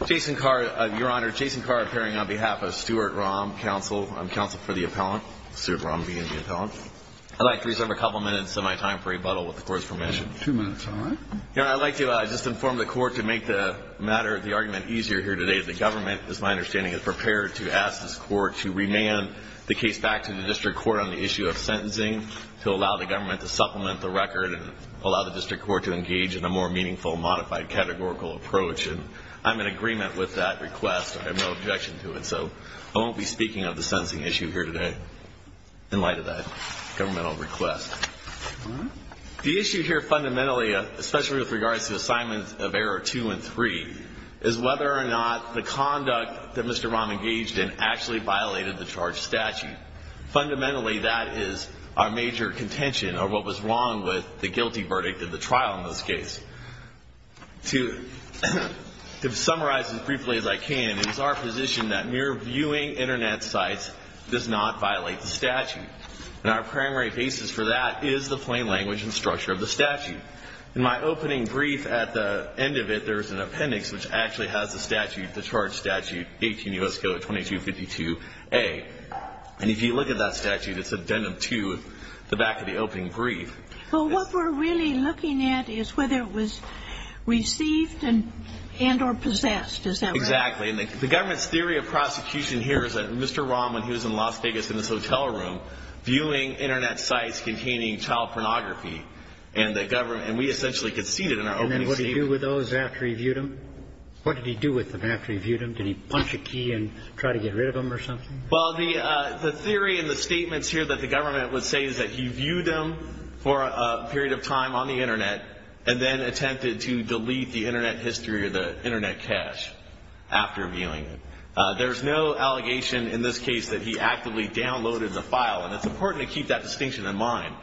I'd like to reserve a couple minutes of my time for rebuttal with the Court's permission. I'd like to just inform the Court to make the matter, the argument, easier here today. The Government, it's my understanding, is prepared to ask this Court to remand the case back to the District Court on the issue of sentencing to allow the Government to supplement the record and allow the District Court to engage in a more meaningful, modified, categorical approach. And I'm in agreement with that request. I have no objection to it. So I won't be speaking of the sentencing issue here today in light of that governmental request. The issue here fundamentally, especially with regards to assignments of error two and three, is whether or not the conduct that Mr. Romm engaged in actually violated the charge statute. And fundamentally, that is our major contention of what was wrong with the guilty verdict of the trial in this case. To summarize as briefly as I can, it is our position that mere viewing Internet sites does not violate the statute. And our primary basis for that is the plain language and structure of the statute. In my opening brief at the end of it, there is an appendix which actually has the statute, the charge statute, 18 U.S. Code 2252A. And if you look at that statute, it's addendum to the back of the opening brief. Well, what we're really looking at is whether it was received and or possessed. Is that right? Exactly. And the Government's theory of prosecution here is that Mr. Romm, when he was in Las Vegas in this hotel room, was viewing Internet sites containing child pornography. And we essentially conceded in our opening statement. And then what did he do with those after he viewed them? What did he do with them after he viewed them? Did he punch a key and try to get rid of them or something? Well, the theory in the statements here that the Government would say is that he viewed them for a period of time on the Internet and then attempted to delete the Internet history or the Internet cache after viewing it. There's no allegation in this case that he actively downloaded the file. And it's important to keep that distinction in mind.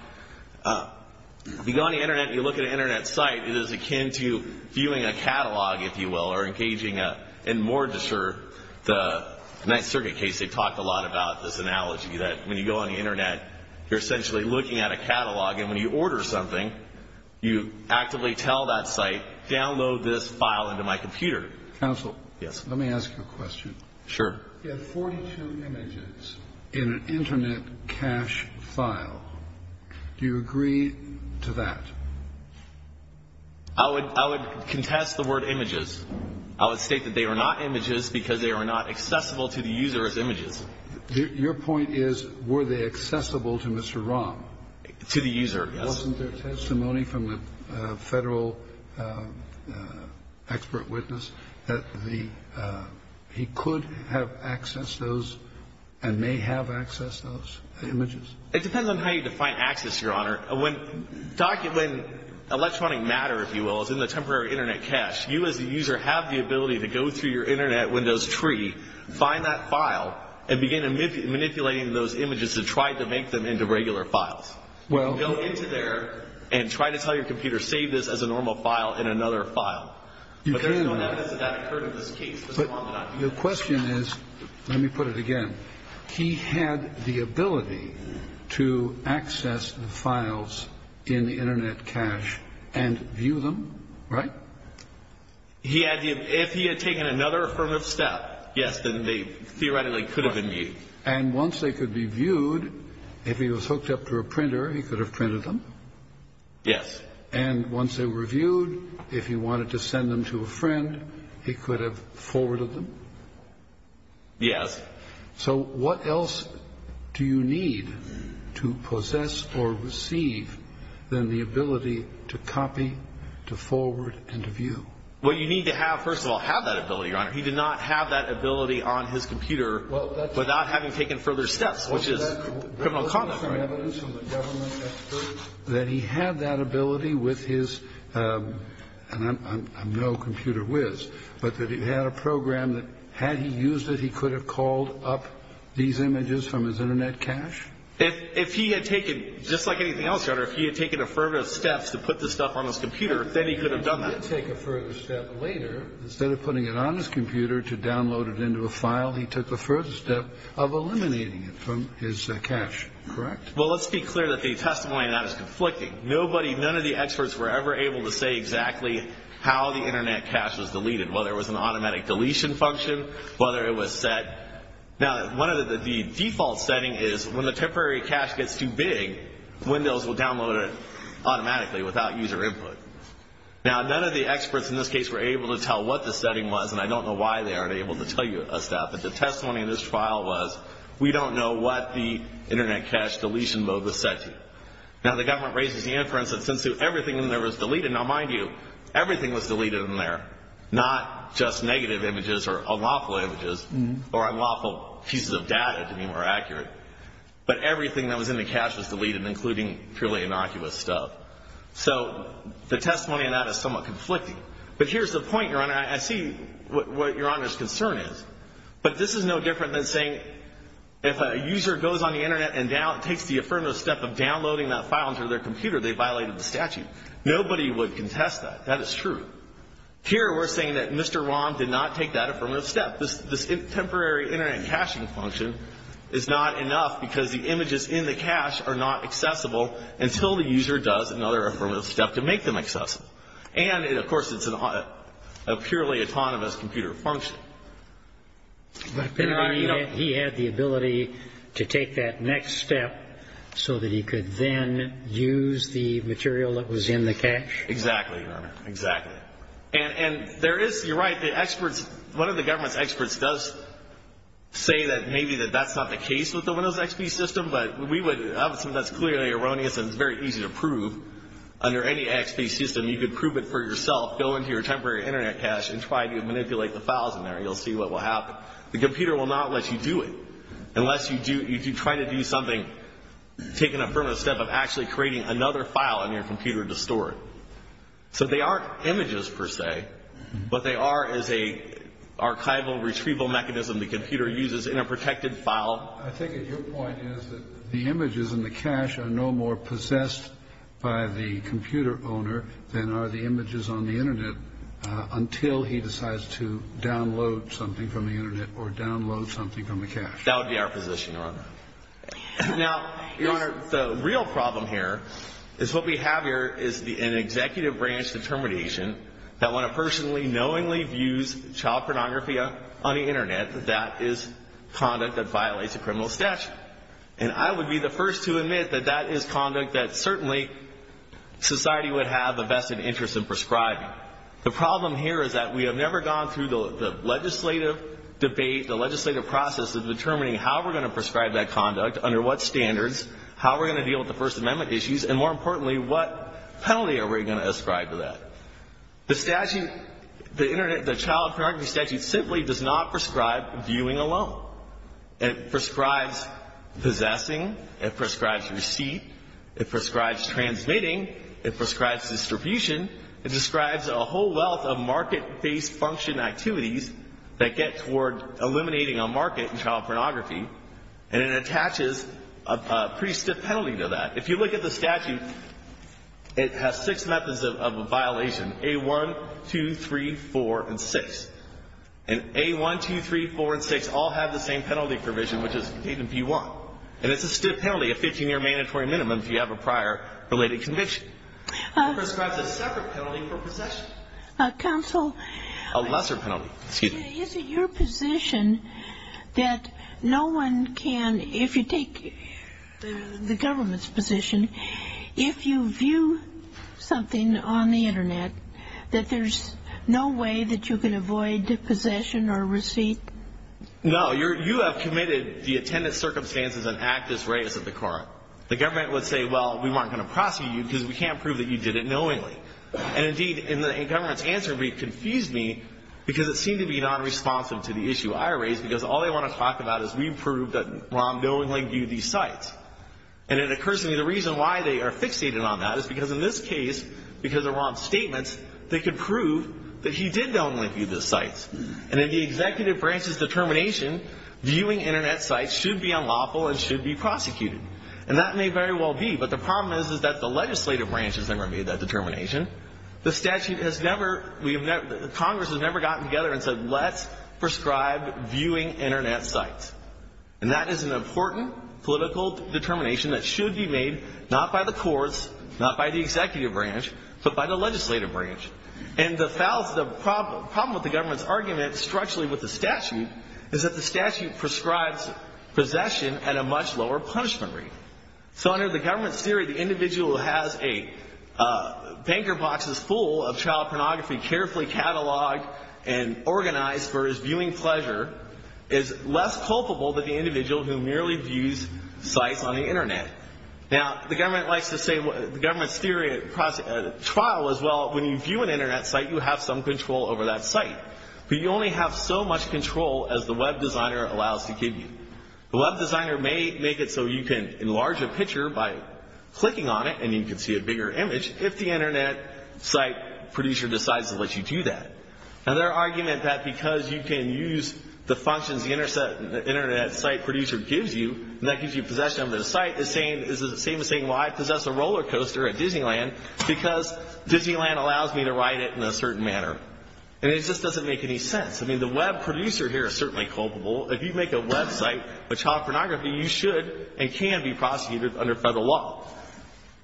If you go on the Internet and you look at an Internet site, it is akin to viewing a catalog, if you will, or engaging in mortgage or the Ninth Circuit case, they talked a lot about this analogy, that when you go on the Internet, you're essentially looking at a catalog. And when you order something, you actively tell that site, download this file into my computer. Counsel. Yes. Let me ask you a question. Sure. You have 42 images in an Internet cache file. Do you agree to that? I would contest the word images. I would state that they are not images because they are not accessible to the user as images. Your point is, were they accessible to Mr. Rom? To the user, yes. Wasn't there testimony from a federal expert witness that he could have accessed those and may have accessed those images? It depends on how you define access, Your Honor. When electronic matter, if you will, is in the temporary Internet cache, you as the user have the ability to go through your Internet Windows tree, find that file, and begin manipulating those images to try to make them into regular files. Go into there and try to tell your computer, save this as a normal file in another file. But there's no evidence that that occurred in this case. Your question is, let me put it again. He had the ability to access the files in the Internet cache and view them, right? If he had taken another affirmative step, yes, then they theoretically could have been viewed. And once they could be viewed, if he was hooked up to a printer, he could have printed them? Yes. And once they were viewed, if he wanted to send them to a friend, he could have forwarded them? Yes. So what else do you need to possess or receive than the ability to copy, to forward, and to view? Well, you need to have, first of all, have that ability, Your Honor. He did not have that ability on his computer without having taken further steps, which is criminal conduct, right? That he had that ability with his, and I'm no computer whiz, but that he had a program that had he used it, he could have called up these images from his Internet cache? If he had taken, just like anything else, Your Honor, if he had taken affirmative steps to put this stuff on his computer, then he could have done that. But he did not take a further step later. Instead of putting it on his computer to download it into a file, he took the further step of eliminating it from his cache, correct? Well, let's be clear that the testimony on that is conflicting. None of the experts were ever able to say exactly how the Internet cache was deleted, whether it was an automatic deletion function, whether it was set. Now, one of the default setting is when the temporary cache gets too big, Windows will download it automatically without user input. Now, none of the experts in this case were able to tell what the setting was, and I don't know why they aren't able to tell you a step, but the testimony in this trial was we don't know what the Internet cache deletion mode was set to. Now, the government raises the inference that since everything in there was deleted, now, mind you, everything was deleted in there, not just negative images or unlawful images or unlawful pieces of data, to be more accurate, but everything that was in the cache was deleted, including purely innocuous stuff. So the testimony on that is somewhat conflicting. But here's the point, Your Honor. I see what Your Honor's concern is. But this is no different than saying if a user goes on the Internet and takes the affirmative step of downloading that file into their computer, they violated the statute. Nobody would contest that. That is true. Here, we're saying that Mr. Wong did not take that affirmative step. This temporary Internet caching function is not enough because the images in the cache are not accessible until the user does another affirmative step to make them accessible. And, of course, it's a purely autonomous computer function. But he had the ability to take that next step so that he could then use the material that was in the cache? Exactly, Your Honor. Exactly. And there is, you're right, the experts, one of the government's experts does say that maybe that that's not the case with the Windows XP system, but that's clearly erroneous and it's very easy to prove. Under any XP system, you could prove it for yourself, go into your temporary Internet cache and try to manipulate the files in there. You'll see what will happen. The computer will not let you do it unless you try to do something, take an affirmative step of actually creating another file in your computer to store it. So they aren't images, per se, but they are as an archival retrieval mechanism the computer uses in a protected file. Well, I think your point is that the images in the cache are no more possessed by the computer owner than are the images on the Internet until he decides to download something from the Internet or download something from the cache. That would be our position, Your Honor. Now, Your Honor, the real problem here is what we have here is an executive branch determination that when a person knowingly views child pornography on the Internet, that is conduct that violates a criminal statute. And I would be the first to admit that that is conduct that certainly society would have a vested interest in prescribing. The problem here is that we have never gone through the legislative debate, the legislative process of determining how we're going to prescribe that conduct, under what standards, how we're going to deal with the First Amendment issues, and more importantly, what penalty are we going to ascribe to that? The statute, the Internet, the child pornography statute simply does not prescribe viewing alone. It prescribes possessing. It prescribes receipt. It prescribes transmitting. It prescribes distribution. It describes a whole wealth of market-based function activities that get toward eliminating a market in child pornography. And it attaches a pretty stiff penalty to that. If you look at the statute, it has six methods of a violation, A1, 2, 3, 4, and 6. And A1, 2, 3, 4, and 6 all have the same penalty provision, which is even if you want. And it's a stiff penalty, a 15-year mandatory minimum if you have a prior related conviction. It prescribes a separate penalty for possession. Counsel. A lesser penalty. Excuse me. Is it your position that no one can, if you take the government's position, if you view something on the Internet, that there's no way that you can avoid possession or receipt? No. You have committed the attendant circumstances and act as reyes at the court. The government would say, well, we weren't going to prosecute you because we can't prove that you did it knowingly. And, indeed, in the government's answer, it confused me because it seemed to be nonresponsive to the issue I raised because all they want to talk about is we proved that Ron knowingly viewed these sites. And it occurs to me the reason why they are fixated on that is because in this case, because of Ron's statements, they could prove that he did knowingly view these sites. And in the executive branch's determination, viewing Internet sites should be unlawful and should be prosecuted. And that may very well be. But the problem is that the legislative branch has never made that determination. The statute has never, Congress has never gotten together and said let's prescribe viewing Internet sites. And that is an important political determination that should be made not by the courts, not by the executive branch, but by the legislative branch. And the problem with the government's argument structurally with the statute is that the statute prescribes possession at a much lower punishment rate. So under the government's theory, the individual who has a banker box that's full of child pornography carefully cataloged and organized for his viewing pleasure is less culpable than the individual who merely views sites on the Internet. Now, the government likes to say, the government's theory, trial as well, when you view an Internet site, you have some control over that site. But you only have so much control as the web designer allows to give you. The web designer may make it so you can enlarge a picture by clicking on it and you can see a bigger image if the Internet site producer decides to let you do that. Now, their argument that because you can use the functions the Internet site producer gives you, and that gives you possession over the site, is the same as saying, well, I possess a roller coaster at Disneyland because Disneyland allows me to ride it in a certain manner. And it just doesn't make any sense. I mean, the web producer here is certainly culpable. If you make a web site with child pornography, you should and can be prosecuted under Federal law.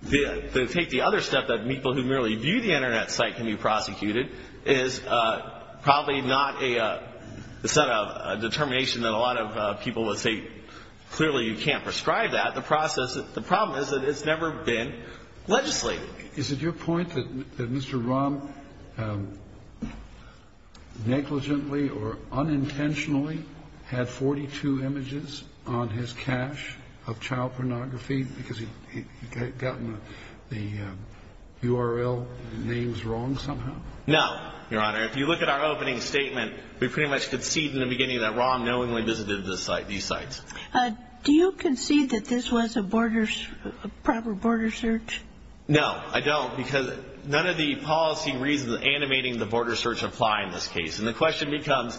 To take the other step that people who merely view the Internet site can be prosecuted is probably not a set of determination that a lot of people would say clearly you can't prescribe that. The problem is that it's never been legislated. Is it your point that Mr. Rahm negligently or unintentionally had 42 images on his cache of child pornography because he had gotten the URL names wrong somehow? No, Your Honor. If you look at our opening statement, we pretty much concede in the beginning that Rahm knowingly visited these sites. Do you concede that this was a proper border search? No, I don't, because none of the policy reasons animating the border search apply in this case. And the question becomes,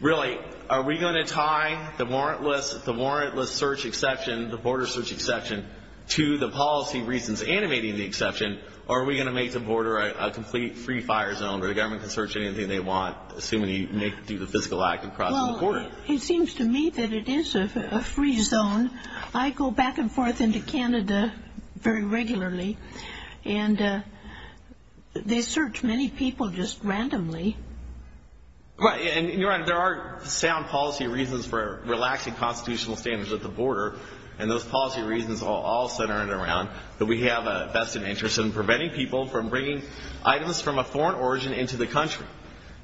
really, are we going to tie the warrantless search exception, the border search exception, to the policy reasons animating the exception, or are we going to make the border a complete free-fire zone where the government can search anything they want, assuming you do the physical act and cross the border? Well, it seems to me that it is a free zone. I go back and forth into Canada very regularly, and they search many people just randomly. Right. And, Your Honor, there are sound policy reasons for relaxing constitutional standards at the border, and those policy reasons are all centered around that we have a vested interest in preventing people from bringing items from a foreign origin into the country.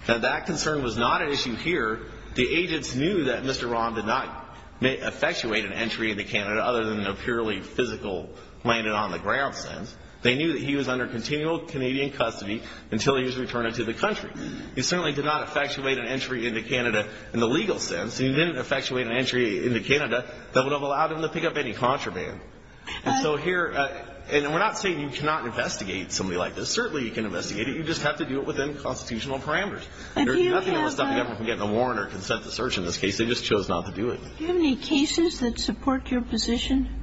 Now, that concern was not an issue here. The agents knew that Mr. Rahm did not effectuate an entry into Canada other than a purely physical landed-on-the-ground sense. They knew that he was under continual Canadian custody until he was returned to the country. He certainly did not effectuate an entry into Canada in the legal sense, and he didn't effectuate an entry into Canada that would have allowed him to pick up any contraband. And so here, and we're not saying you cannot investigate somebody like this. Certainly you can investigate it. You just have to do it within constitutional parameters. And there would be nothing that would stop the government from getting a warrant or consent to search in this case. They just chose not to do it. Do you have any cases that support your position?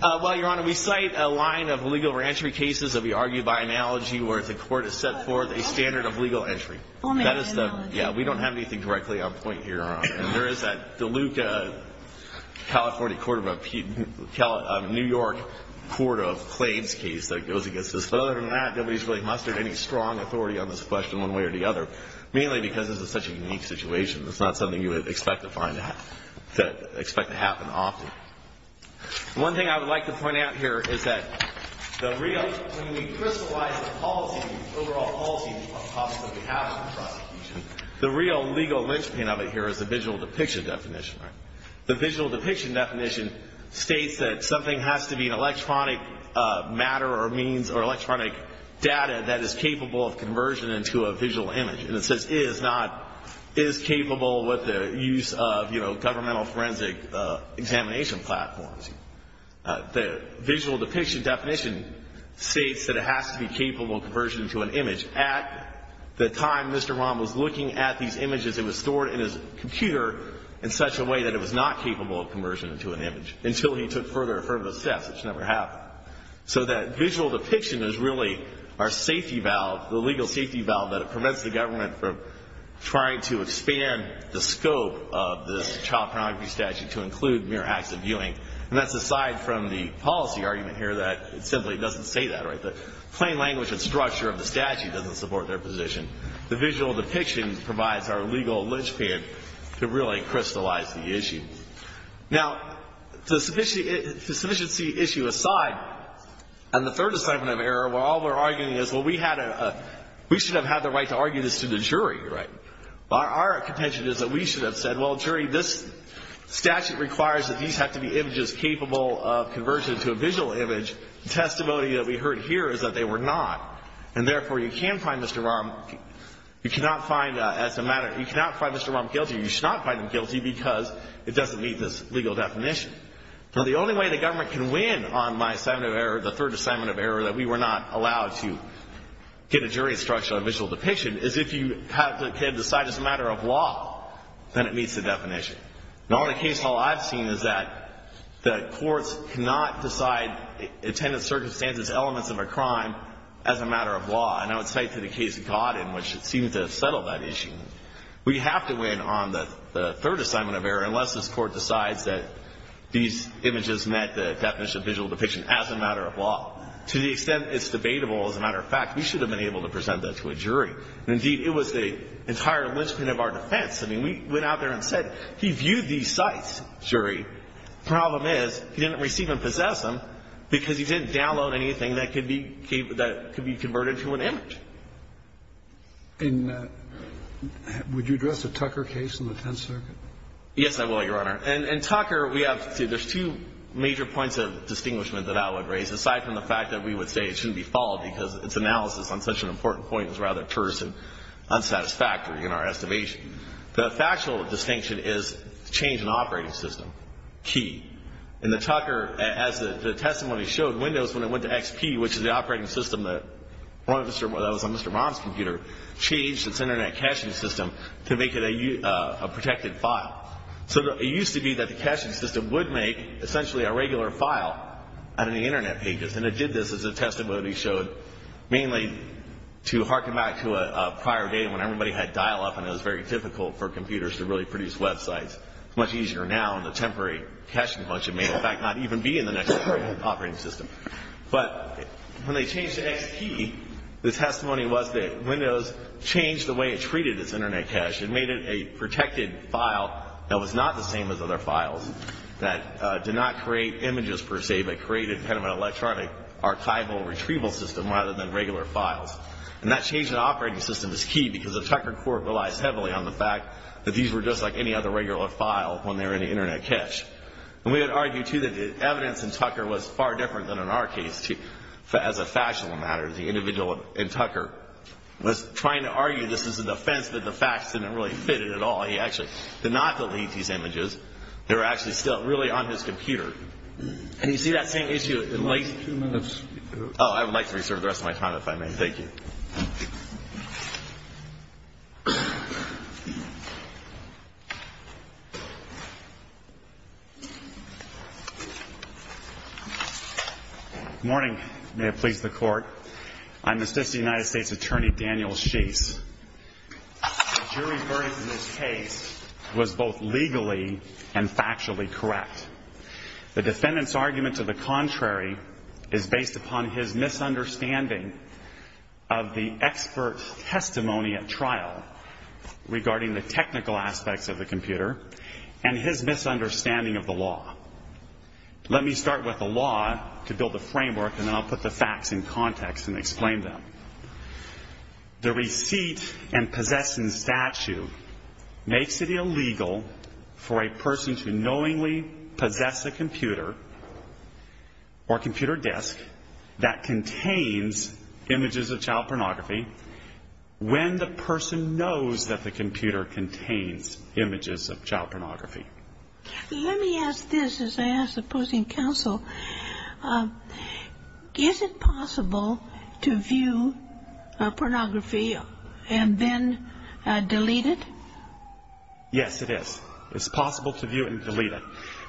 Well, Your Honor, we cite a line of legal reentry cases that we argue by analogy where the court has set forth a standard of legal entry. Oh, my God. Yeah. We don't have anything directly on point here, Your Honor. And there is that Deluca, California, New York court of claims case that goes against this. But other than that, nobody's really mustered any strong authority on this question one way or the other, mainly because this is such a unique situation. It's not something you would expect to find to happen often. One thing I would like to point out here is that the real, when we crystallize the policy, the overall policy of what possibly happened in the prosecution, the real legal linchpin of it here is the visual depiction definition. The visual depiction definition states that something has to be an electronic matter or means or electronic data that is capable of conversion into a visual image. And it says is not, is capable with the use of, you know, governmental forensic examination platforms. The visual depiction definition states that it has to be capable of conversion into an image. At the time Mr. Rahm was looking at these images, it was stored in his computer in such a way that it was not capable of conversion into an image until he took further affirmative steps, which never happened. So that visual depiction is really our safety valve, the legal safety valve that prevents the government from trying to expand the scope of this child pornography statute to include mere acts of viewing. And that's aside from the policy argument here that it simply doesn't say that. The plain language and structure of the statute doesn't support their position. The visual depiction provides our legal linchpin to really crystallize the issue. Now, the sufficiency issue aside, and the third assignment of error where all we're arguing is, well, we should have had the right to argue this to the jury, right? Our contention is that we should have said, well, jury, this statute requires that these have to be images capable of conversion to a visual image. The testimony that we heard here is that they were not. And therefore, you cannot find Mr. Rahm guilty. You should not find him guilty because it doesn't meet this legal definition. So the only way the government can win on my assignment of error, the third assignment of error, that we were not allowed to get a jury instruction on visual depiction, is if you have the kid decide as a matter of law that it meets the definition. Now, in a case hall I've seen is that the courts cannot decide attendance circumstances, elements of a crime, as a matter of law. And I would say to the case of Godin, which seems to have settled that issue, we have to win on the third assignment of error unless this court decides that these images met the definition of visual depiction as a matter of law. To the extent it's debatable as a matter of fact, we should have been able to present that to a jury. Indeed, it was the entire linchpin of our defense. I mean, we went out there and said he viewed these sites, jury. The problem is he didn't receive and possess them because he didn't download anything that could be converted to an image. And would you address the Tucker case in the Tenth Circuit? Yes, I will, Your Honor. And Tucker, we have to see there's two major points of distinguishment that I would raise, aside from the fact that we would say it shouldn't be followed because its analysis on such an important point is rather terse and unsatisfactory in our estimation. The factual distinction is change in operating system, key. And the Tucker, as the testimony showed, Windows, when it went to XP, which is the operating system that was on Mr. Baum's computer, changed its Internet caching system to make it a protected file. So it used to be that the caching system would make essentially a regular file out of the Internet pages. And it did this, as the testimony showed, mainly to harken back to a prior day when everybody had dial-up and it was very difficult for computers to really produce websites. It's much easier now in the temporary caching bunch. It may, in fact, not even be in the next operating system. But when they changed to XP, the testimony was that Windows changed the way it treated its Internet cache. It made it a protected file that was not the same as other files, that did not create images, per se, but created kind of an electronic archival retrieval system rather than regular files. And that change in operating system is key because the Tucker Court relies heavily on the fact that these were just like any other regular file when they were in the Internet cache. And we would argue, too, that the evidence in Tucker was far different than in our case, as a factual matter. The individual in Tucker was trying to argue this as a defense that the facts didn't really fit it at all. He actually did not delete these images. They were actually still really on his computer. And you see that same issue in the late... Two minutes. Oh, I would like to reserve the rest of my time, if I may. Thank you. Good morning. May it please the Court. I'm Assistant United States Attorney Daniel Sheese. The jury's verdict in this case was both legally and factually correct. The defendant's argument to the contrary is based upon his misunderstanding of the expert's testimony at trial regarding the technical aspects of the computer and his misunderstanding of the law. Let me start with the law to build a framework, and then I'll put the facts in context and explain them. The receipt and possession statute makes it illegal for a person to knowingly possess a computer or computer disk that contains images of child pornography when the person knows that the computer contains images of child pornography. Let me ask this, as I ask the opposing counsel. Is it possible to view pornography and then delete it? Yes, it is. It's possible to view it and delete it.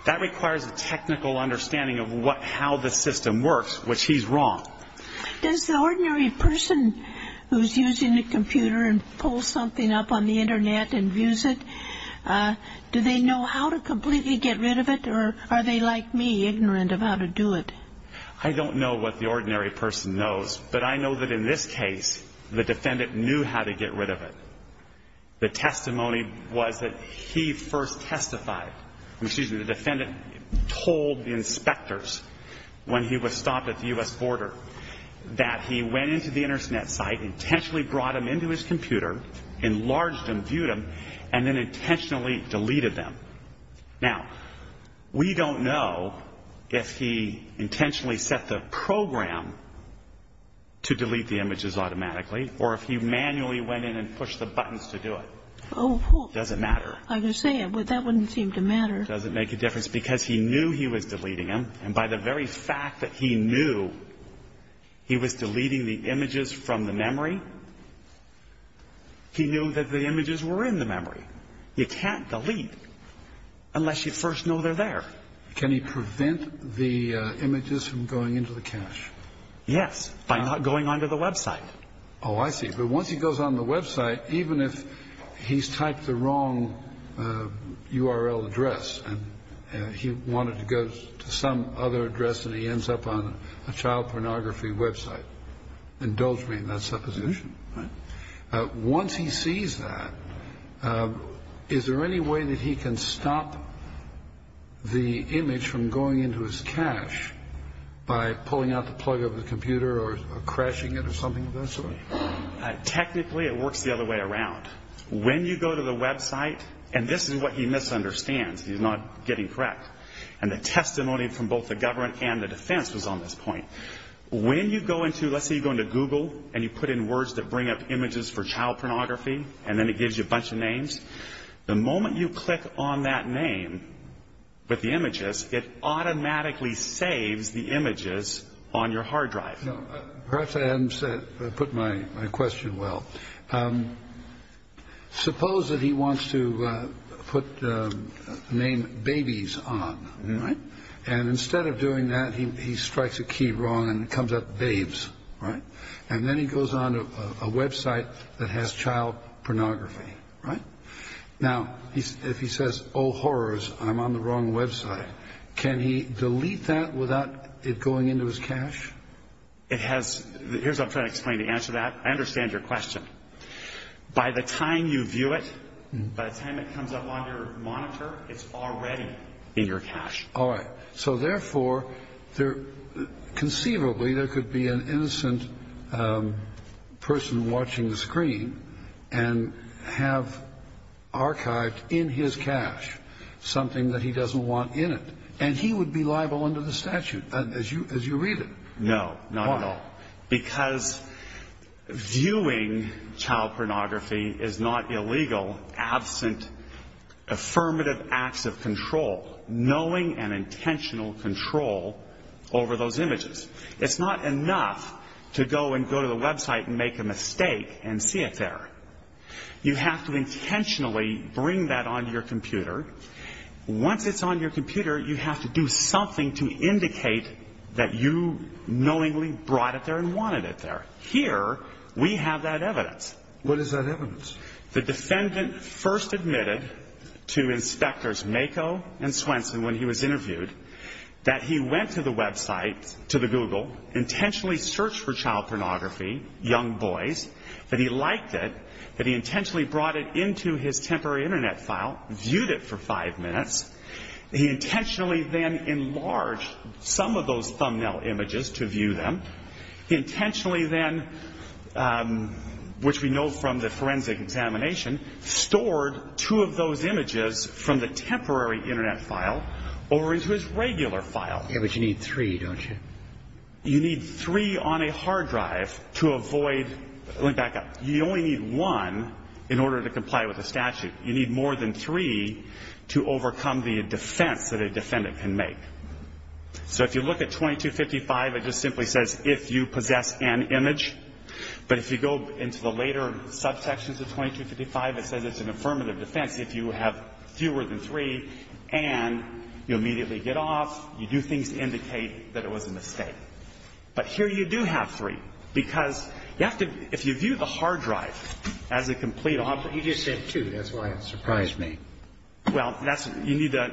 That requires a technical understanding of how the system works, which he's wrong. Does the ordinary person who's using a computer and pulls something up on the Internet and views it, do they know how to completely get rid of it, or are they like me, ignorant of how to do it? I don't know what the ordinary person knows, but I know that in this case, the defendant knew how to get rid of it. The testimony was that he first testified. Excuse me, the defendant told the inspectors when he was stopped at the U.S. border that he went into the Internet site, intentionally brought him into his computer, enlarged him, viewed him, and then intentionally deleted them. Now, we don't know if he intentionally set the program to delete the images automatically or if he manually went in and pushed the buttons to do it. Oh. It doesn't matter. I was going to say, that wouldn't seem to matter. It doesn't make a difference because he knew he was deleting them, and by the very fact that he knew he was deleting the images from the memory, he knew that the images were in the memory. You can't delete unless you first know they're there. Can he prevent the images from going into the cache? Yes, by not going onto the website. Oh, I see. But once he goes on the website, even if he's typed the wrong URL address and he wanted to go to some other address and he ends up on a child pornography website, indulge me in that supposition. Once he sees that, is there any way that he can stop the image from going into his cache by pulling out the plug of the computer or crashing it or something of that sort? Technically, it works the other way around. When you go to the website, and this is what he misunderstands. He's not getting correct. And the testimony from both the government and the defense was on this point. When you go into, let's say you go into Google and you put in words that bring up images for child pornography, and then it gives you a bunch of names, the moment you click on that name with the images, it automatically saves the images on your hard drive. Perhaps I haven't put my question well. Suppose that he wants to name babies on. And instead of doing that, he strikes a key wrong and it comes up babes. And then he goes onto a website that has child pornography. Now, if he says, oh, horrors, I'm on the wrong website, can he delete that without it going into his cache? Here's what I'm trying to explain to answer that. I understand your question. By the time you view it, by the time it comes up on your monitor, it's already in your cache. All right. So therefore, conceivably, there could be an innocent person watching the screen and have archived in his cache something that he doesn't want in it. And he would be liable under the statute, as you read it. No, not at all. Why? Because viewing child pornography is not illegal, absent affirmative acts of control, knowing and intentional control over those images. It's not enough to go and go to the website and make a mistake and see it there. You have to intentionally bring that onto your computer. Once it's on your computer, you have to do something to indicate that you knowingly brought it there and wanted it there. Here, we have that evidence. What is that evidence? The defendant first admitted to Inspectors Mako and Swenson when he was interviewed that he went to the website, to the Google, intentionally searched for child pornography, young boys, that he liked it, that he intentionally brought it into his temporary Internet file, viewed it for five minutes. He intentionally then enlarged some of those thumbnail images to view them. He intentionally then, which we know from the forensic examination, stored two of those images from the temporary Internet file over into his regular file. Yeah, but you need three, don't you? You need three on a hard drive to avoid going back up. You only need one in order to comply with the statute. You need more than three to overcome the defense that a defendant can make. So if you look at 2255, it just simply says if you possess an image. But if you go into the later subsections of 2255, it says it's an affirmative defense. If you have fewer than three and you immediately get off, you do things to indicate that it was a mistake. But here you do have three because you have to, if you view the hard drive as a complete object. You just said two. That's why it surprised me. Well, that's, you need to,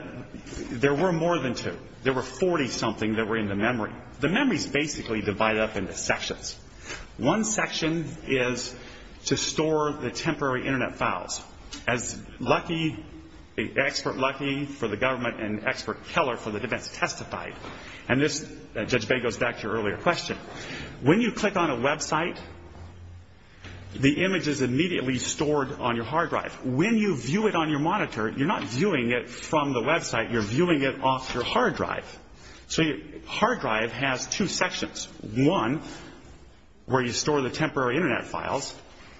there were more than two. There were 40-something that were in the memory. Now, the memories basically divide up into sections. One section is to store the temporary Internet files. As Lucky, the expert Lucky for the government and expert Keller for the defense testified, and this, Judge Bay goes back to your earlier question, when you click on a website, the image is immediately stored on your hard drive. When you view it on your monitor, you're not viewing it from the website. You're viewing it off your hard drive. So your hard drive has two sections, one where you store the temporary Internet files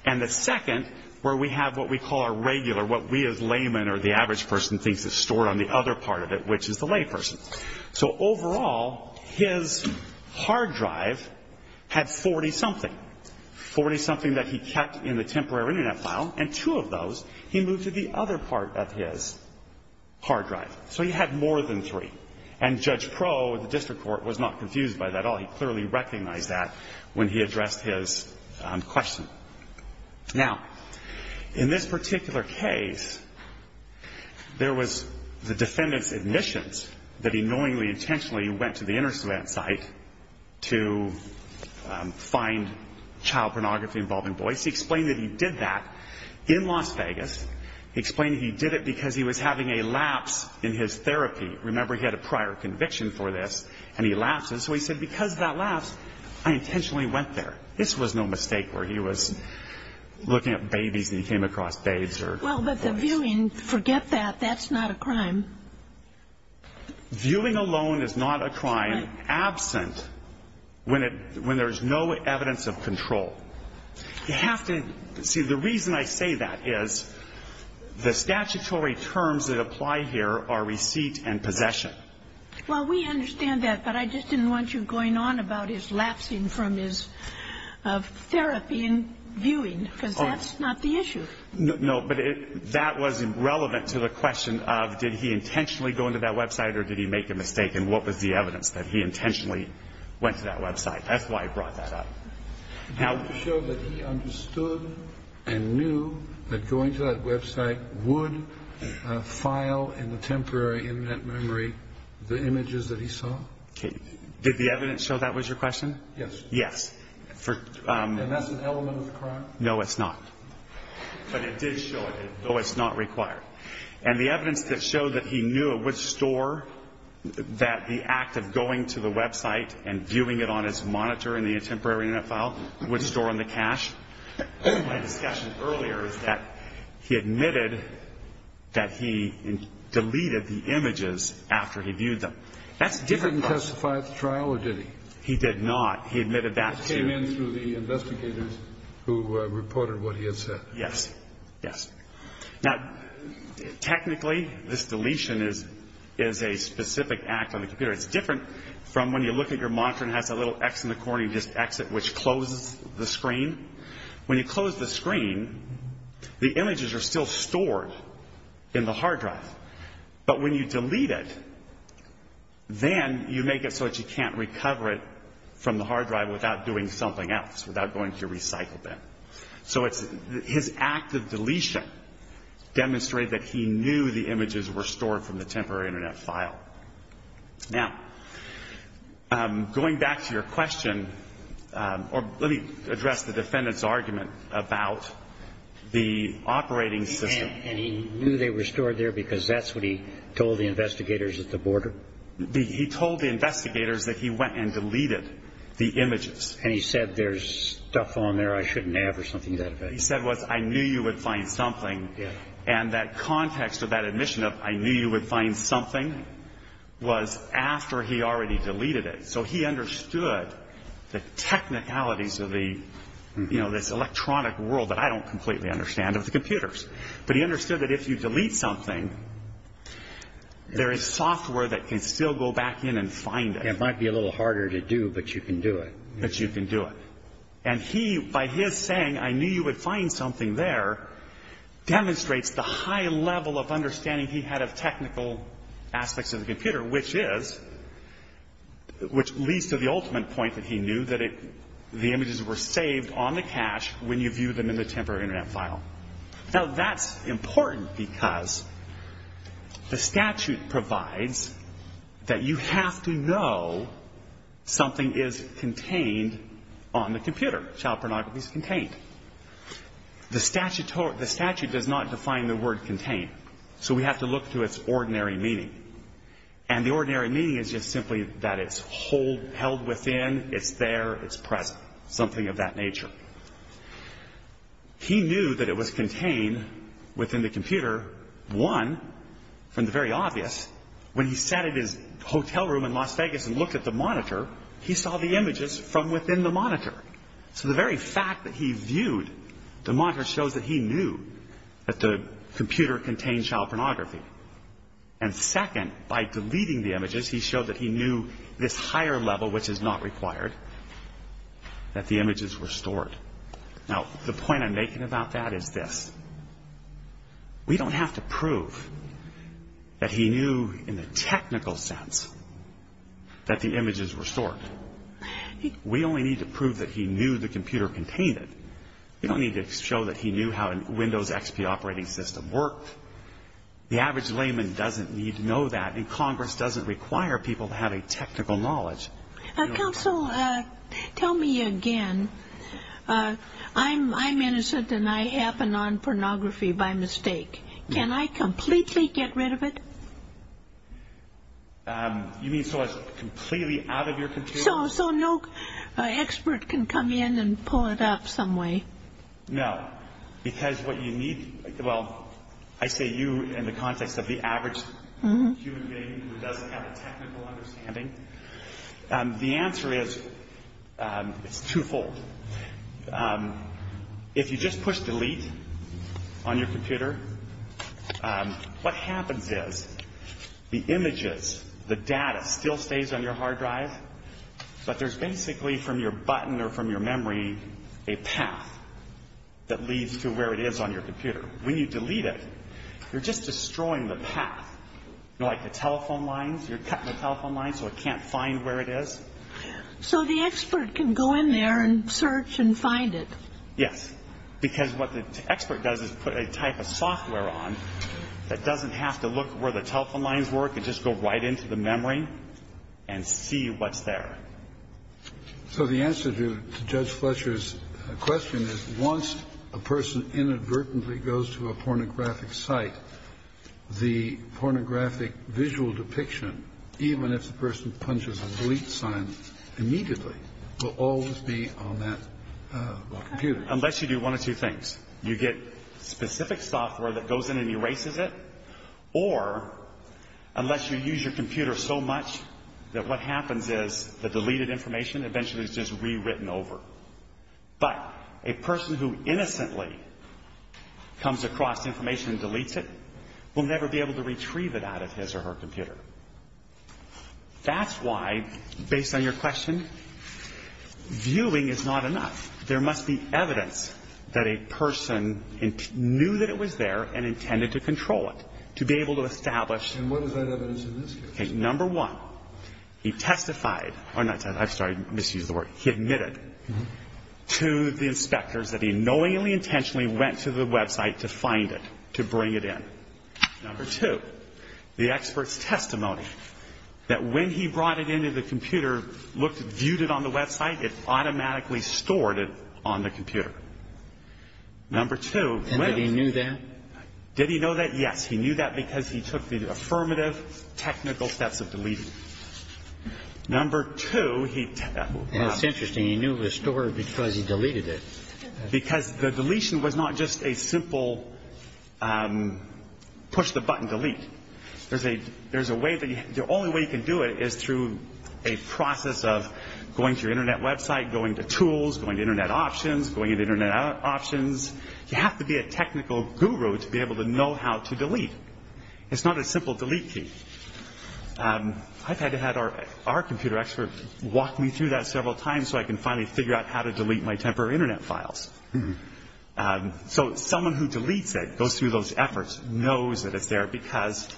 and the second where we have what we call a regular, what we as laymen or the average person thinks is stored on the other part of it, which is the layperson. So overall, his hard drive had 40-something, 40-something that he kept in the temporary Internet file, and two of those he moved to the other part of his hard drive. So he had more than three. And Judge Pro, the district court, was not confused by that at all. He clearly recognized that when he addressed his question. Now, in this particular case, there was the defendant's admissions that he knowingly intentionally went to the Internet site to find child pornography involving boys. He explained that he did that in Las Vegas. He explained he did it because he was having a lapse in his therapy. Remember, he had a prior conviction for this, and he lapsed. And so he said, because of that lapse, I intentionally went there. This was no mistake where he was looking at babies and he came across babes or boys. Well, but the viewing, forget that. That's not a crime. Viewing alone is not a crime absent when there's no evidence of control. You have to see the reason I say that is the statutory terms that apply here are receipt and possession. Well, we understand that, but I just didn't want you going on about his lapsing from his therapy and viewing, because that's not the issue. No, but that was relevant to the question of did he intentionally go into that Web site or did he make a mistake and what was the evidence that he intentionally went to that Web site. That's why I brought that up. Did the evidence show that he understood and knew that going to that Web site would file in the temporary Internet memory the images that he saw? Did the evidence show that was your question? Yes. Yes. And that's an element of the crime? No, it's not. But it did show it, though it's not required. And the evidence that showed that he knew it would store that the act of going to the Web site and viewing it on his monitor in the temporary Internet file would store in the cache. My discussion earlier is that he admitted that he deleted the images after he viewed them. That's a different question. Did he testify at the trial or did he? He did not. He admitted that to you. It came in through the investigators who reported what he had said. Yes. Yes. Now, technically, this deletion is a specific act on the computer. It's different from when you look at your monitor and it has that little X in the corner, you just X it, which closes the screen. When you close the screen, the images are still stored in the hard drive. But when you delete it, then you make it so that you can't recover it from the hard drive without doing something else, without going to your recycle bin. So his act of deletion demonstrated that he knew the images were stored from the temporary Internet file. Now, going back to your question, or let me address the defendant's argument about the operating system. And he knew they were stored there because that's what he told the investigators at the border? He told the investigators that he went and deleted the images. And he said there's stuff on there I shouldn't have or something to that effect. What he said was I knew you would find something. Yes. And that context of that admission of I knew you would find something was after he already deleted it. So he understood the technicalities of this electronic world that I don't completely understand of the computers. But he understood that if you delete something, there is software that can still go back in and find it. It might be a little harder to do, but you can do it. But you can do it. And he, by his saying I knew you would find something there, demonstrates the high level of understanding he had of technical aspects of the computer, which is, which leads to the ultimate point that he knew, that the images were saved on the cache when you viewed them in the temporary Internet file. Now, that's important because the statute provides that you have to know something is contained on the computer. Child pornography is contained. The statute does not define the word contained. So we have to look to its ordinary meaning. And the ordinary meaning is just simply that it's held within, it's there, it's present, something of that nature. He knew that it was contained within the computer. One, from the very obvious, when he sat in his hotel room in Las Vegas and looked at the monitor, he saw the images from within the monitor. So the very fact that he viewed the monitor shows that he knew that the computer contained child pornography. And second, by deleting the images, he showed that he knew this higher level, which is not required, that the images were stored. Now, the point I'm making about that is this. We don't have to prove that he knew in the technical sense that the images were stored. We only need to prove that he knew the computer contained it. We don't need to show that he knew how a Windows XP operating system worked. The average layman doesn't need to know that. And Congress doesn't require people to have a technical knowledge. Counsel, tell me again. I'm innocent and I happen on pornography by mistake. Can I completely get rid of it? You mean so it's completely out of your computer? So no expert can come in and pull it up some way. No, because what you need, well, I say you in the context of the average human being who doesn't have a technical understanding. The answer is it's twofold. If you just push delete on your computer, what happens is the images, the data still stays on your hard drive. But there's basically from your button or from your memory a path that leads to where it is on your computer. When you delete it, you're just destroying the path. You know, like the telephone lines, you're cutting the telephone lines so it can't find where it is. So the expert can go in there and search and find it. Yes, because what the expert does is put a type of software on that doesn't have to look where the telephone lines work and just go right into the memory and see what's there. So the answer to Judge Fletcher's question is once a person inadvertently goes to a pornographic site, the pornographic visual depiction, even if the person punches a delete sign immediately, will always be on that computer. Unless you do one of two things. You get specific software that goes in and erases it. Or unless you use your computer so much that what happens is the deleted information eventually is just rewritten over. But a person who innocently comes across information and deletes it will never be able to retrieve it out of his or her computer. That's why, based on your question, viewing is not enough. There must be evidence that a person knew that it was there and intended to control it, to be able to establish. And what is that evidence in this case? Okay. Number one, he testified or not testified. I misused the word. He admitted to the inspectors that he knowingly, intentionally went to the website to find it, to bring it in. Number two, the expert's testimony that when he brought it into the computer, looked, viewed it on the website, it automatically stored it on the computer. Number two. And did he knew that? Did he know that? Yes. He knew that because he took the affirmative technical steps of deleting. Number two, he ---- It's interesting. He knew it was stored because he deleted it. Because the deletion was not just a simple push-the-button delete. There's a way that you ---- The only way you can do it is through a process of going to your Internet website, going to tools, going to Internet options, going to Internet options. You have to be a technical guru to be able to know how to delete. It's not a simple delete key. I've had to have our computer expert walk me through that several times so I can finally figure out how to delete my temporary Internet files. So someone who deletes it, goes through those efforts, knows that it's there because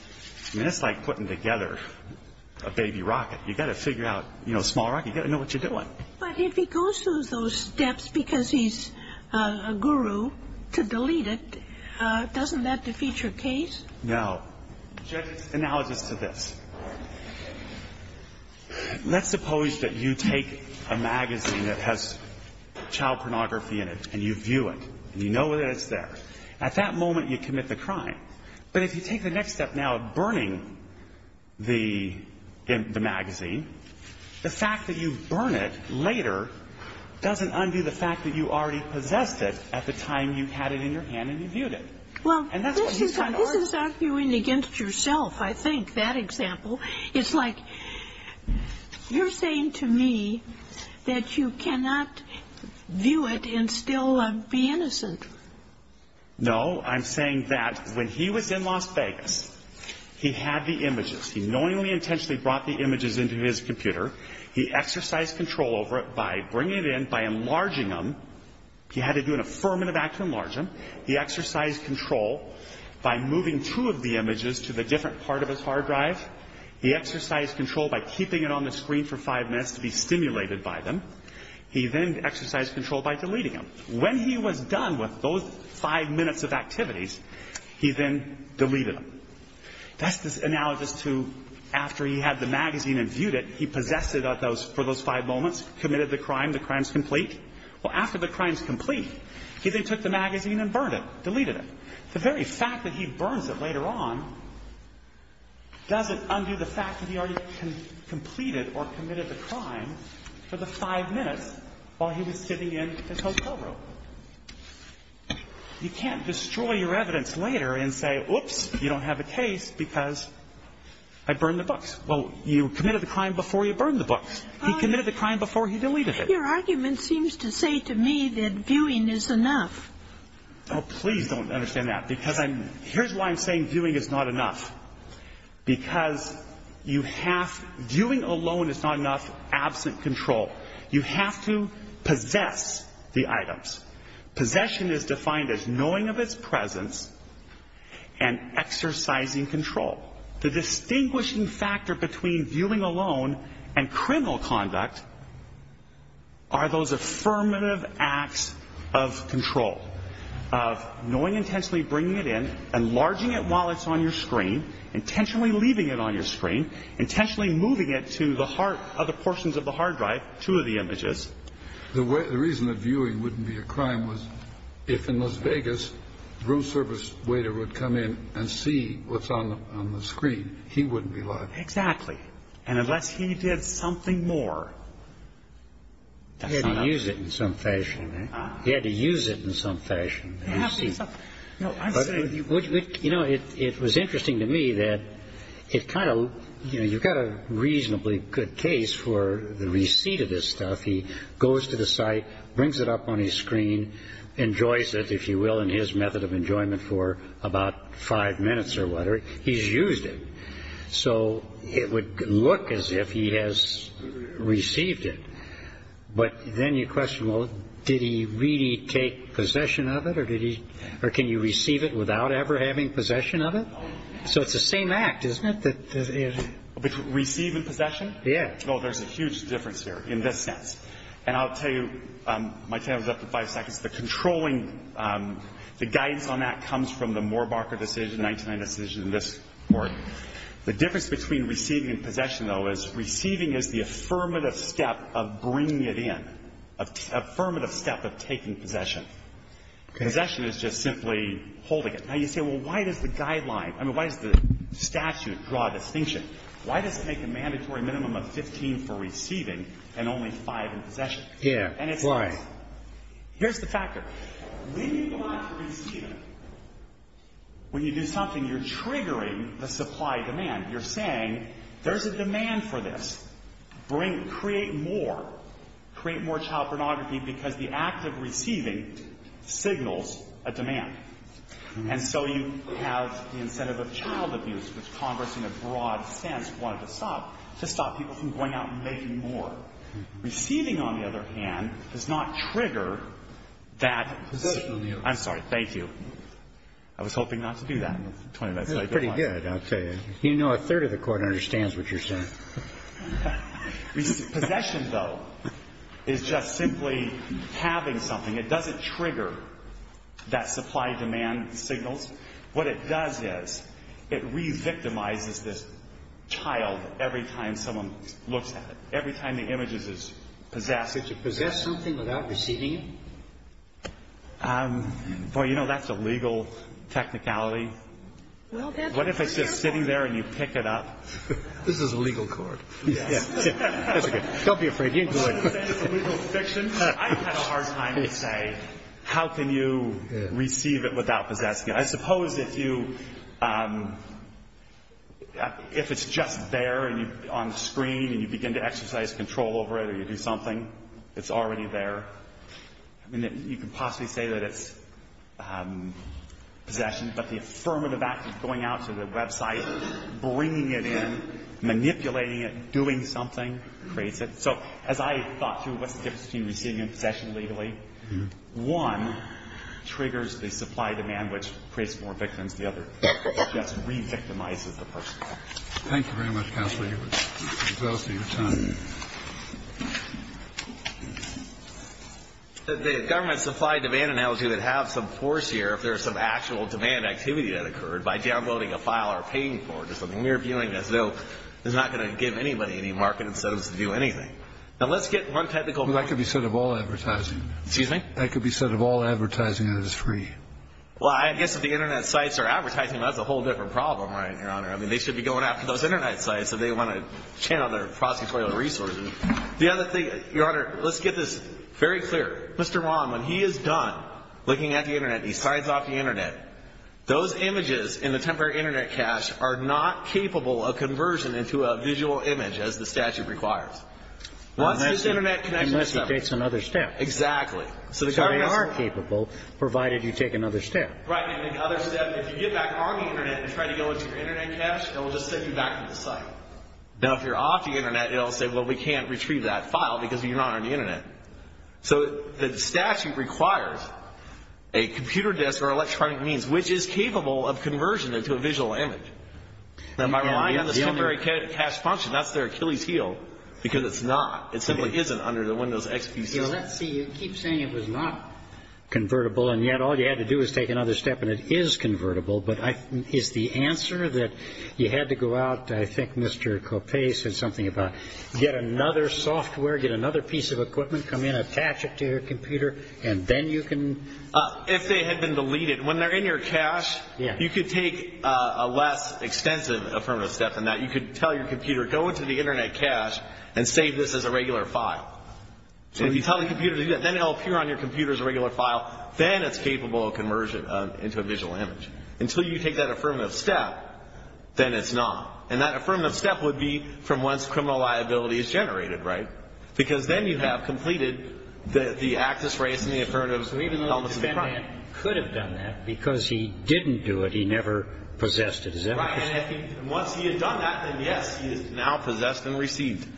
it's like putting together a baby rocket. You've got to figure out, you know, a small rocket. You've got to know what you're doing. But if he goes through those steps because he's a guru to delete it, doesn't that defeat your case? No. Now, analogous to this, let's suppose that you take a magazine that has child pornography in it and you view it and you know that it's there. At that moment, you commit the crime. But if you take the next step now of burning the magazine, the fact that you burn it later doesn't undo the fact that you already possessed it at the time you had it in your hand and you viewed it. Well, this is arguing against yourself, I think, that example. It's like you're saying to me that you cannot view it and still be innocent. No, I'm saying that when he was in Las Vegas, he had the images. He knowingly, intentionally brought the images into his computer. He exercised control over it by bringing it in, by enlarging them. He had to do an affirmative act to enlarge them. He exercised control by moving two of the images to the different part of his hard drive. He exercised control by keeping it on the screen for five minutes to be stimulated by them. He then exercised control by deleting them. When he was done with those five minutes of activities, he then deleted them. That's analogous to after he had the magazine and viewed it, he possessed it for those five moments, committed the crime, the crime's complete. Well, after the crime's complete, he then took the magazine and burned it, deleted it. The very fact that he burns it later on doesn't undo the fact that he already completed or committed the crime for the five minutes while he was sitting in his hotel room. You can't destroy your evidence later and say, whoops, you don't have a case because I burned the books. Well, you committed the crime before you burned the books. He committed the crime before he deleted it. Your argument seems to say to me that viewing is enough. Oh, please don't understand that, because I'm – here's why I'm saying viewing is not enough. Because you have – viewing alone is not enough absent control. You have to possess the items. Possession is defined as knowing of its presence and exercising control. The distinguishing factor between viewing alone and criminal conduct are those affirmative acts of control, of knowing intentionally bringing it in, enlarging it while it's on your screen, intentionally leaving it on your screen, intentionally moving it to the heart of the portions of the hard drive, two of the images. The reason that viewing wouldn't be a crime was if, in Las Vegas, room service waiter would come in and see what's on the screen, he wouldn't be lying. Exactly. And unless he did something more. He had to use it in some fashion. He had to use it in some fashion. You have to use – no, I'm saying – Well, you know, it was interesting to me that it kind of – you know, you've got a reasonably good case for the receipt of this stuff. He goes to the site, brings it up on his screen, enjoys it, if you will, in his method of enjoyment for about five minutes or whatever. He's used it. So it would look as if he has received it. But then you question, well, did he really take possession of it, or can you receive it without ever having possession of it? So it's the same act, isn't it? Receive and possession? Yeah. Oh, there's a huge difference here in this sense. And I'll tell you – my time is up to five seconds. The controlling – the guidance on that comes from the Moore-Barker decision, the 1999 decision in this court. The difference between receiving and possession, though, is receiving is the affirmative step of bringing it in, affirmative step of taking possession. Possession is just simply holding it. Now, you say, well, why does the guideline – I mean, why does the statute draw a distinction? Why does it make a mandatory minimum of 15 for receiving and only five in possession? Yeah, right. Here's the factor. When you go out to receive it, when you do something, you're triggering the supply-demand. You're saying there's a demand for this. Create more. Create more child pornography because the act of receiving signals a demand. And so you have the incentive of child abuse, which Congress in a broad sense wanted to stop, to stop people from going out and making more. Receiving, on the other hand, does not trigger that. Possession on the other hand. I'm sorry. Thank you. I was hoping not to do that. That's pretty good, I'll tell you. You know, a third of the Court understands what you're saying. Possession, though, is just simply having something. It doesn't trigger that supply-demand signals. What it does is it re-victimizes this child every time someone looks at it, every time the image is possessed. Does it possess something without receiving it? Boy, you know, that's a legal technicality. What if it's just sitting there and you pick it up? This is a legal court. Yes. That's good. Don't be afraid. You can do it. I've had a hard time to say how can you receive it without possessing it. I suppose if it's just there on the screen and you begin to exercise control over it or you do something, it's already there. I mean, you could possibly say that it's possession, but the affirmative act of going out to the website, bringing it in, manipulating it, doing something, creates it. So as I thought through what's the difference between receiving and possession legally, one triggers the supply-demand, which creates more victims. The other just re-victimizes the person. Thank you very much, counsel. The government supply-demand analogy would have some force here if there was some actual demand activity that occurred by downloading a file or paying for it or something. We're viewing this as though it's not going to give anybody any market incentives to do anything. Now, let's get one technical. That could be said of all advertising. Excuse me? That could be said of all advertising that is free. Well, I guess if the Internet sites are advertising, that's a whole different problem, right, Your Honor? I mean, they should be going after those Internet sites. I mean, so they want to channel their prosecutorial resources. The other thing, Your Honor, let's get this very clear. Mr. Wong, when he is done looking at the Internet and he signs off the Internet, those images in the temporary Internet cache are not capable of conversion into a visual image, as the statute requires. Unless he takes another step. Exactly. Because they are capable, provided you take another step. Right. And the other step, if you get back on the Internet and try to go into your Now, if you're off the Internet, it will say, well, we can't retrieve that file because you're not on the Internet. So the statute requires a computer disk or electronic means, which is capable of conversion into a visual image. Now, am I relying on the temporary cache function? That's their Achilles heel, because it's not. It simply isn't under the Windows XP system. Let's see. You keep saying it was not convertible, and yet all you had to do was take another step, and it is convertible. But is the answer that you had to go out, I think Mr. Copay said something about, get another software, get another piece of equipment, come in, attach it to your computer, and then you can? If they had been deleted. When they're in your cache, you could take a less extensive affirmative step than that. You could tell your computer, go into the Internet cache and save this as a regular file. If you tell the computer to do that, then it will appear on your computer as a regular file. Then it's capable of conversion into a visual image. Until you take that affirmative step, then it's not. And that affirmative step would be from once criminal liability is generated, right? Because then you have completed the access rights and the affirmatives. So even though this man could have done that, because he didn't do it, he never possessed it, is that what you're saying? Right. And once he had done that, then yes, he is now possessed and received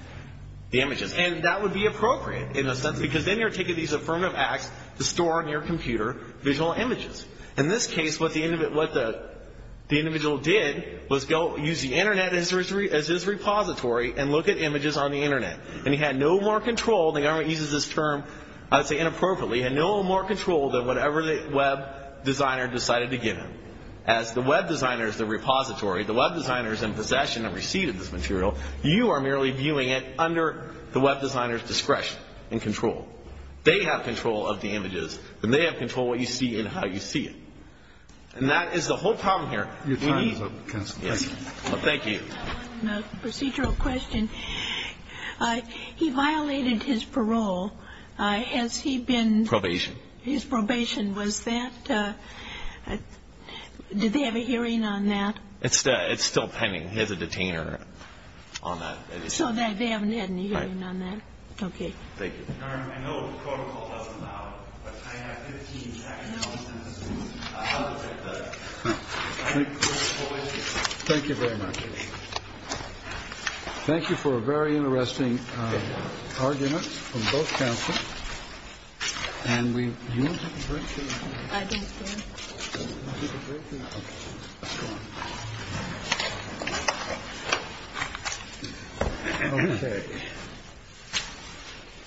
the images. And that would be appropriate, in a sense, because then you're taking these affirmative acts to store in your computer visual images. In this case, what the individual did was use the Internet as his repository and look at images on the Internet. And he had no more control. The government uses this term, I would say, inappropriately. He had no more control than whatever the web designer decided to give him. As the web designer is the repository, the web designer is in possession and received this material. You are merely viewing it under the web designer's discretion and control. They have control of the images, and they have control of what you see and how you see it. And that is the whole problem here. Your time is up, counsel. Thank you. Procedural question. He violated his parole. Has he been? Probation. His probation. Was that? Did they have a hearing on that? It's still pending. He has a detainer on that. So they haven't had any hearing on that? Right. Okay. Thank you. Thank you very much. Thank you for a very interesting argument from both counsel. And we.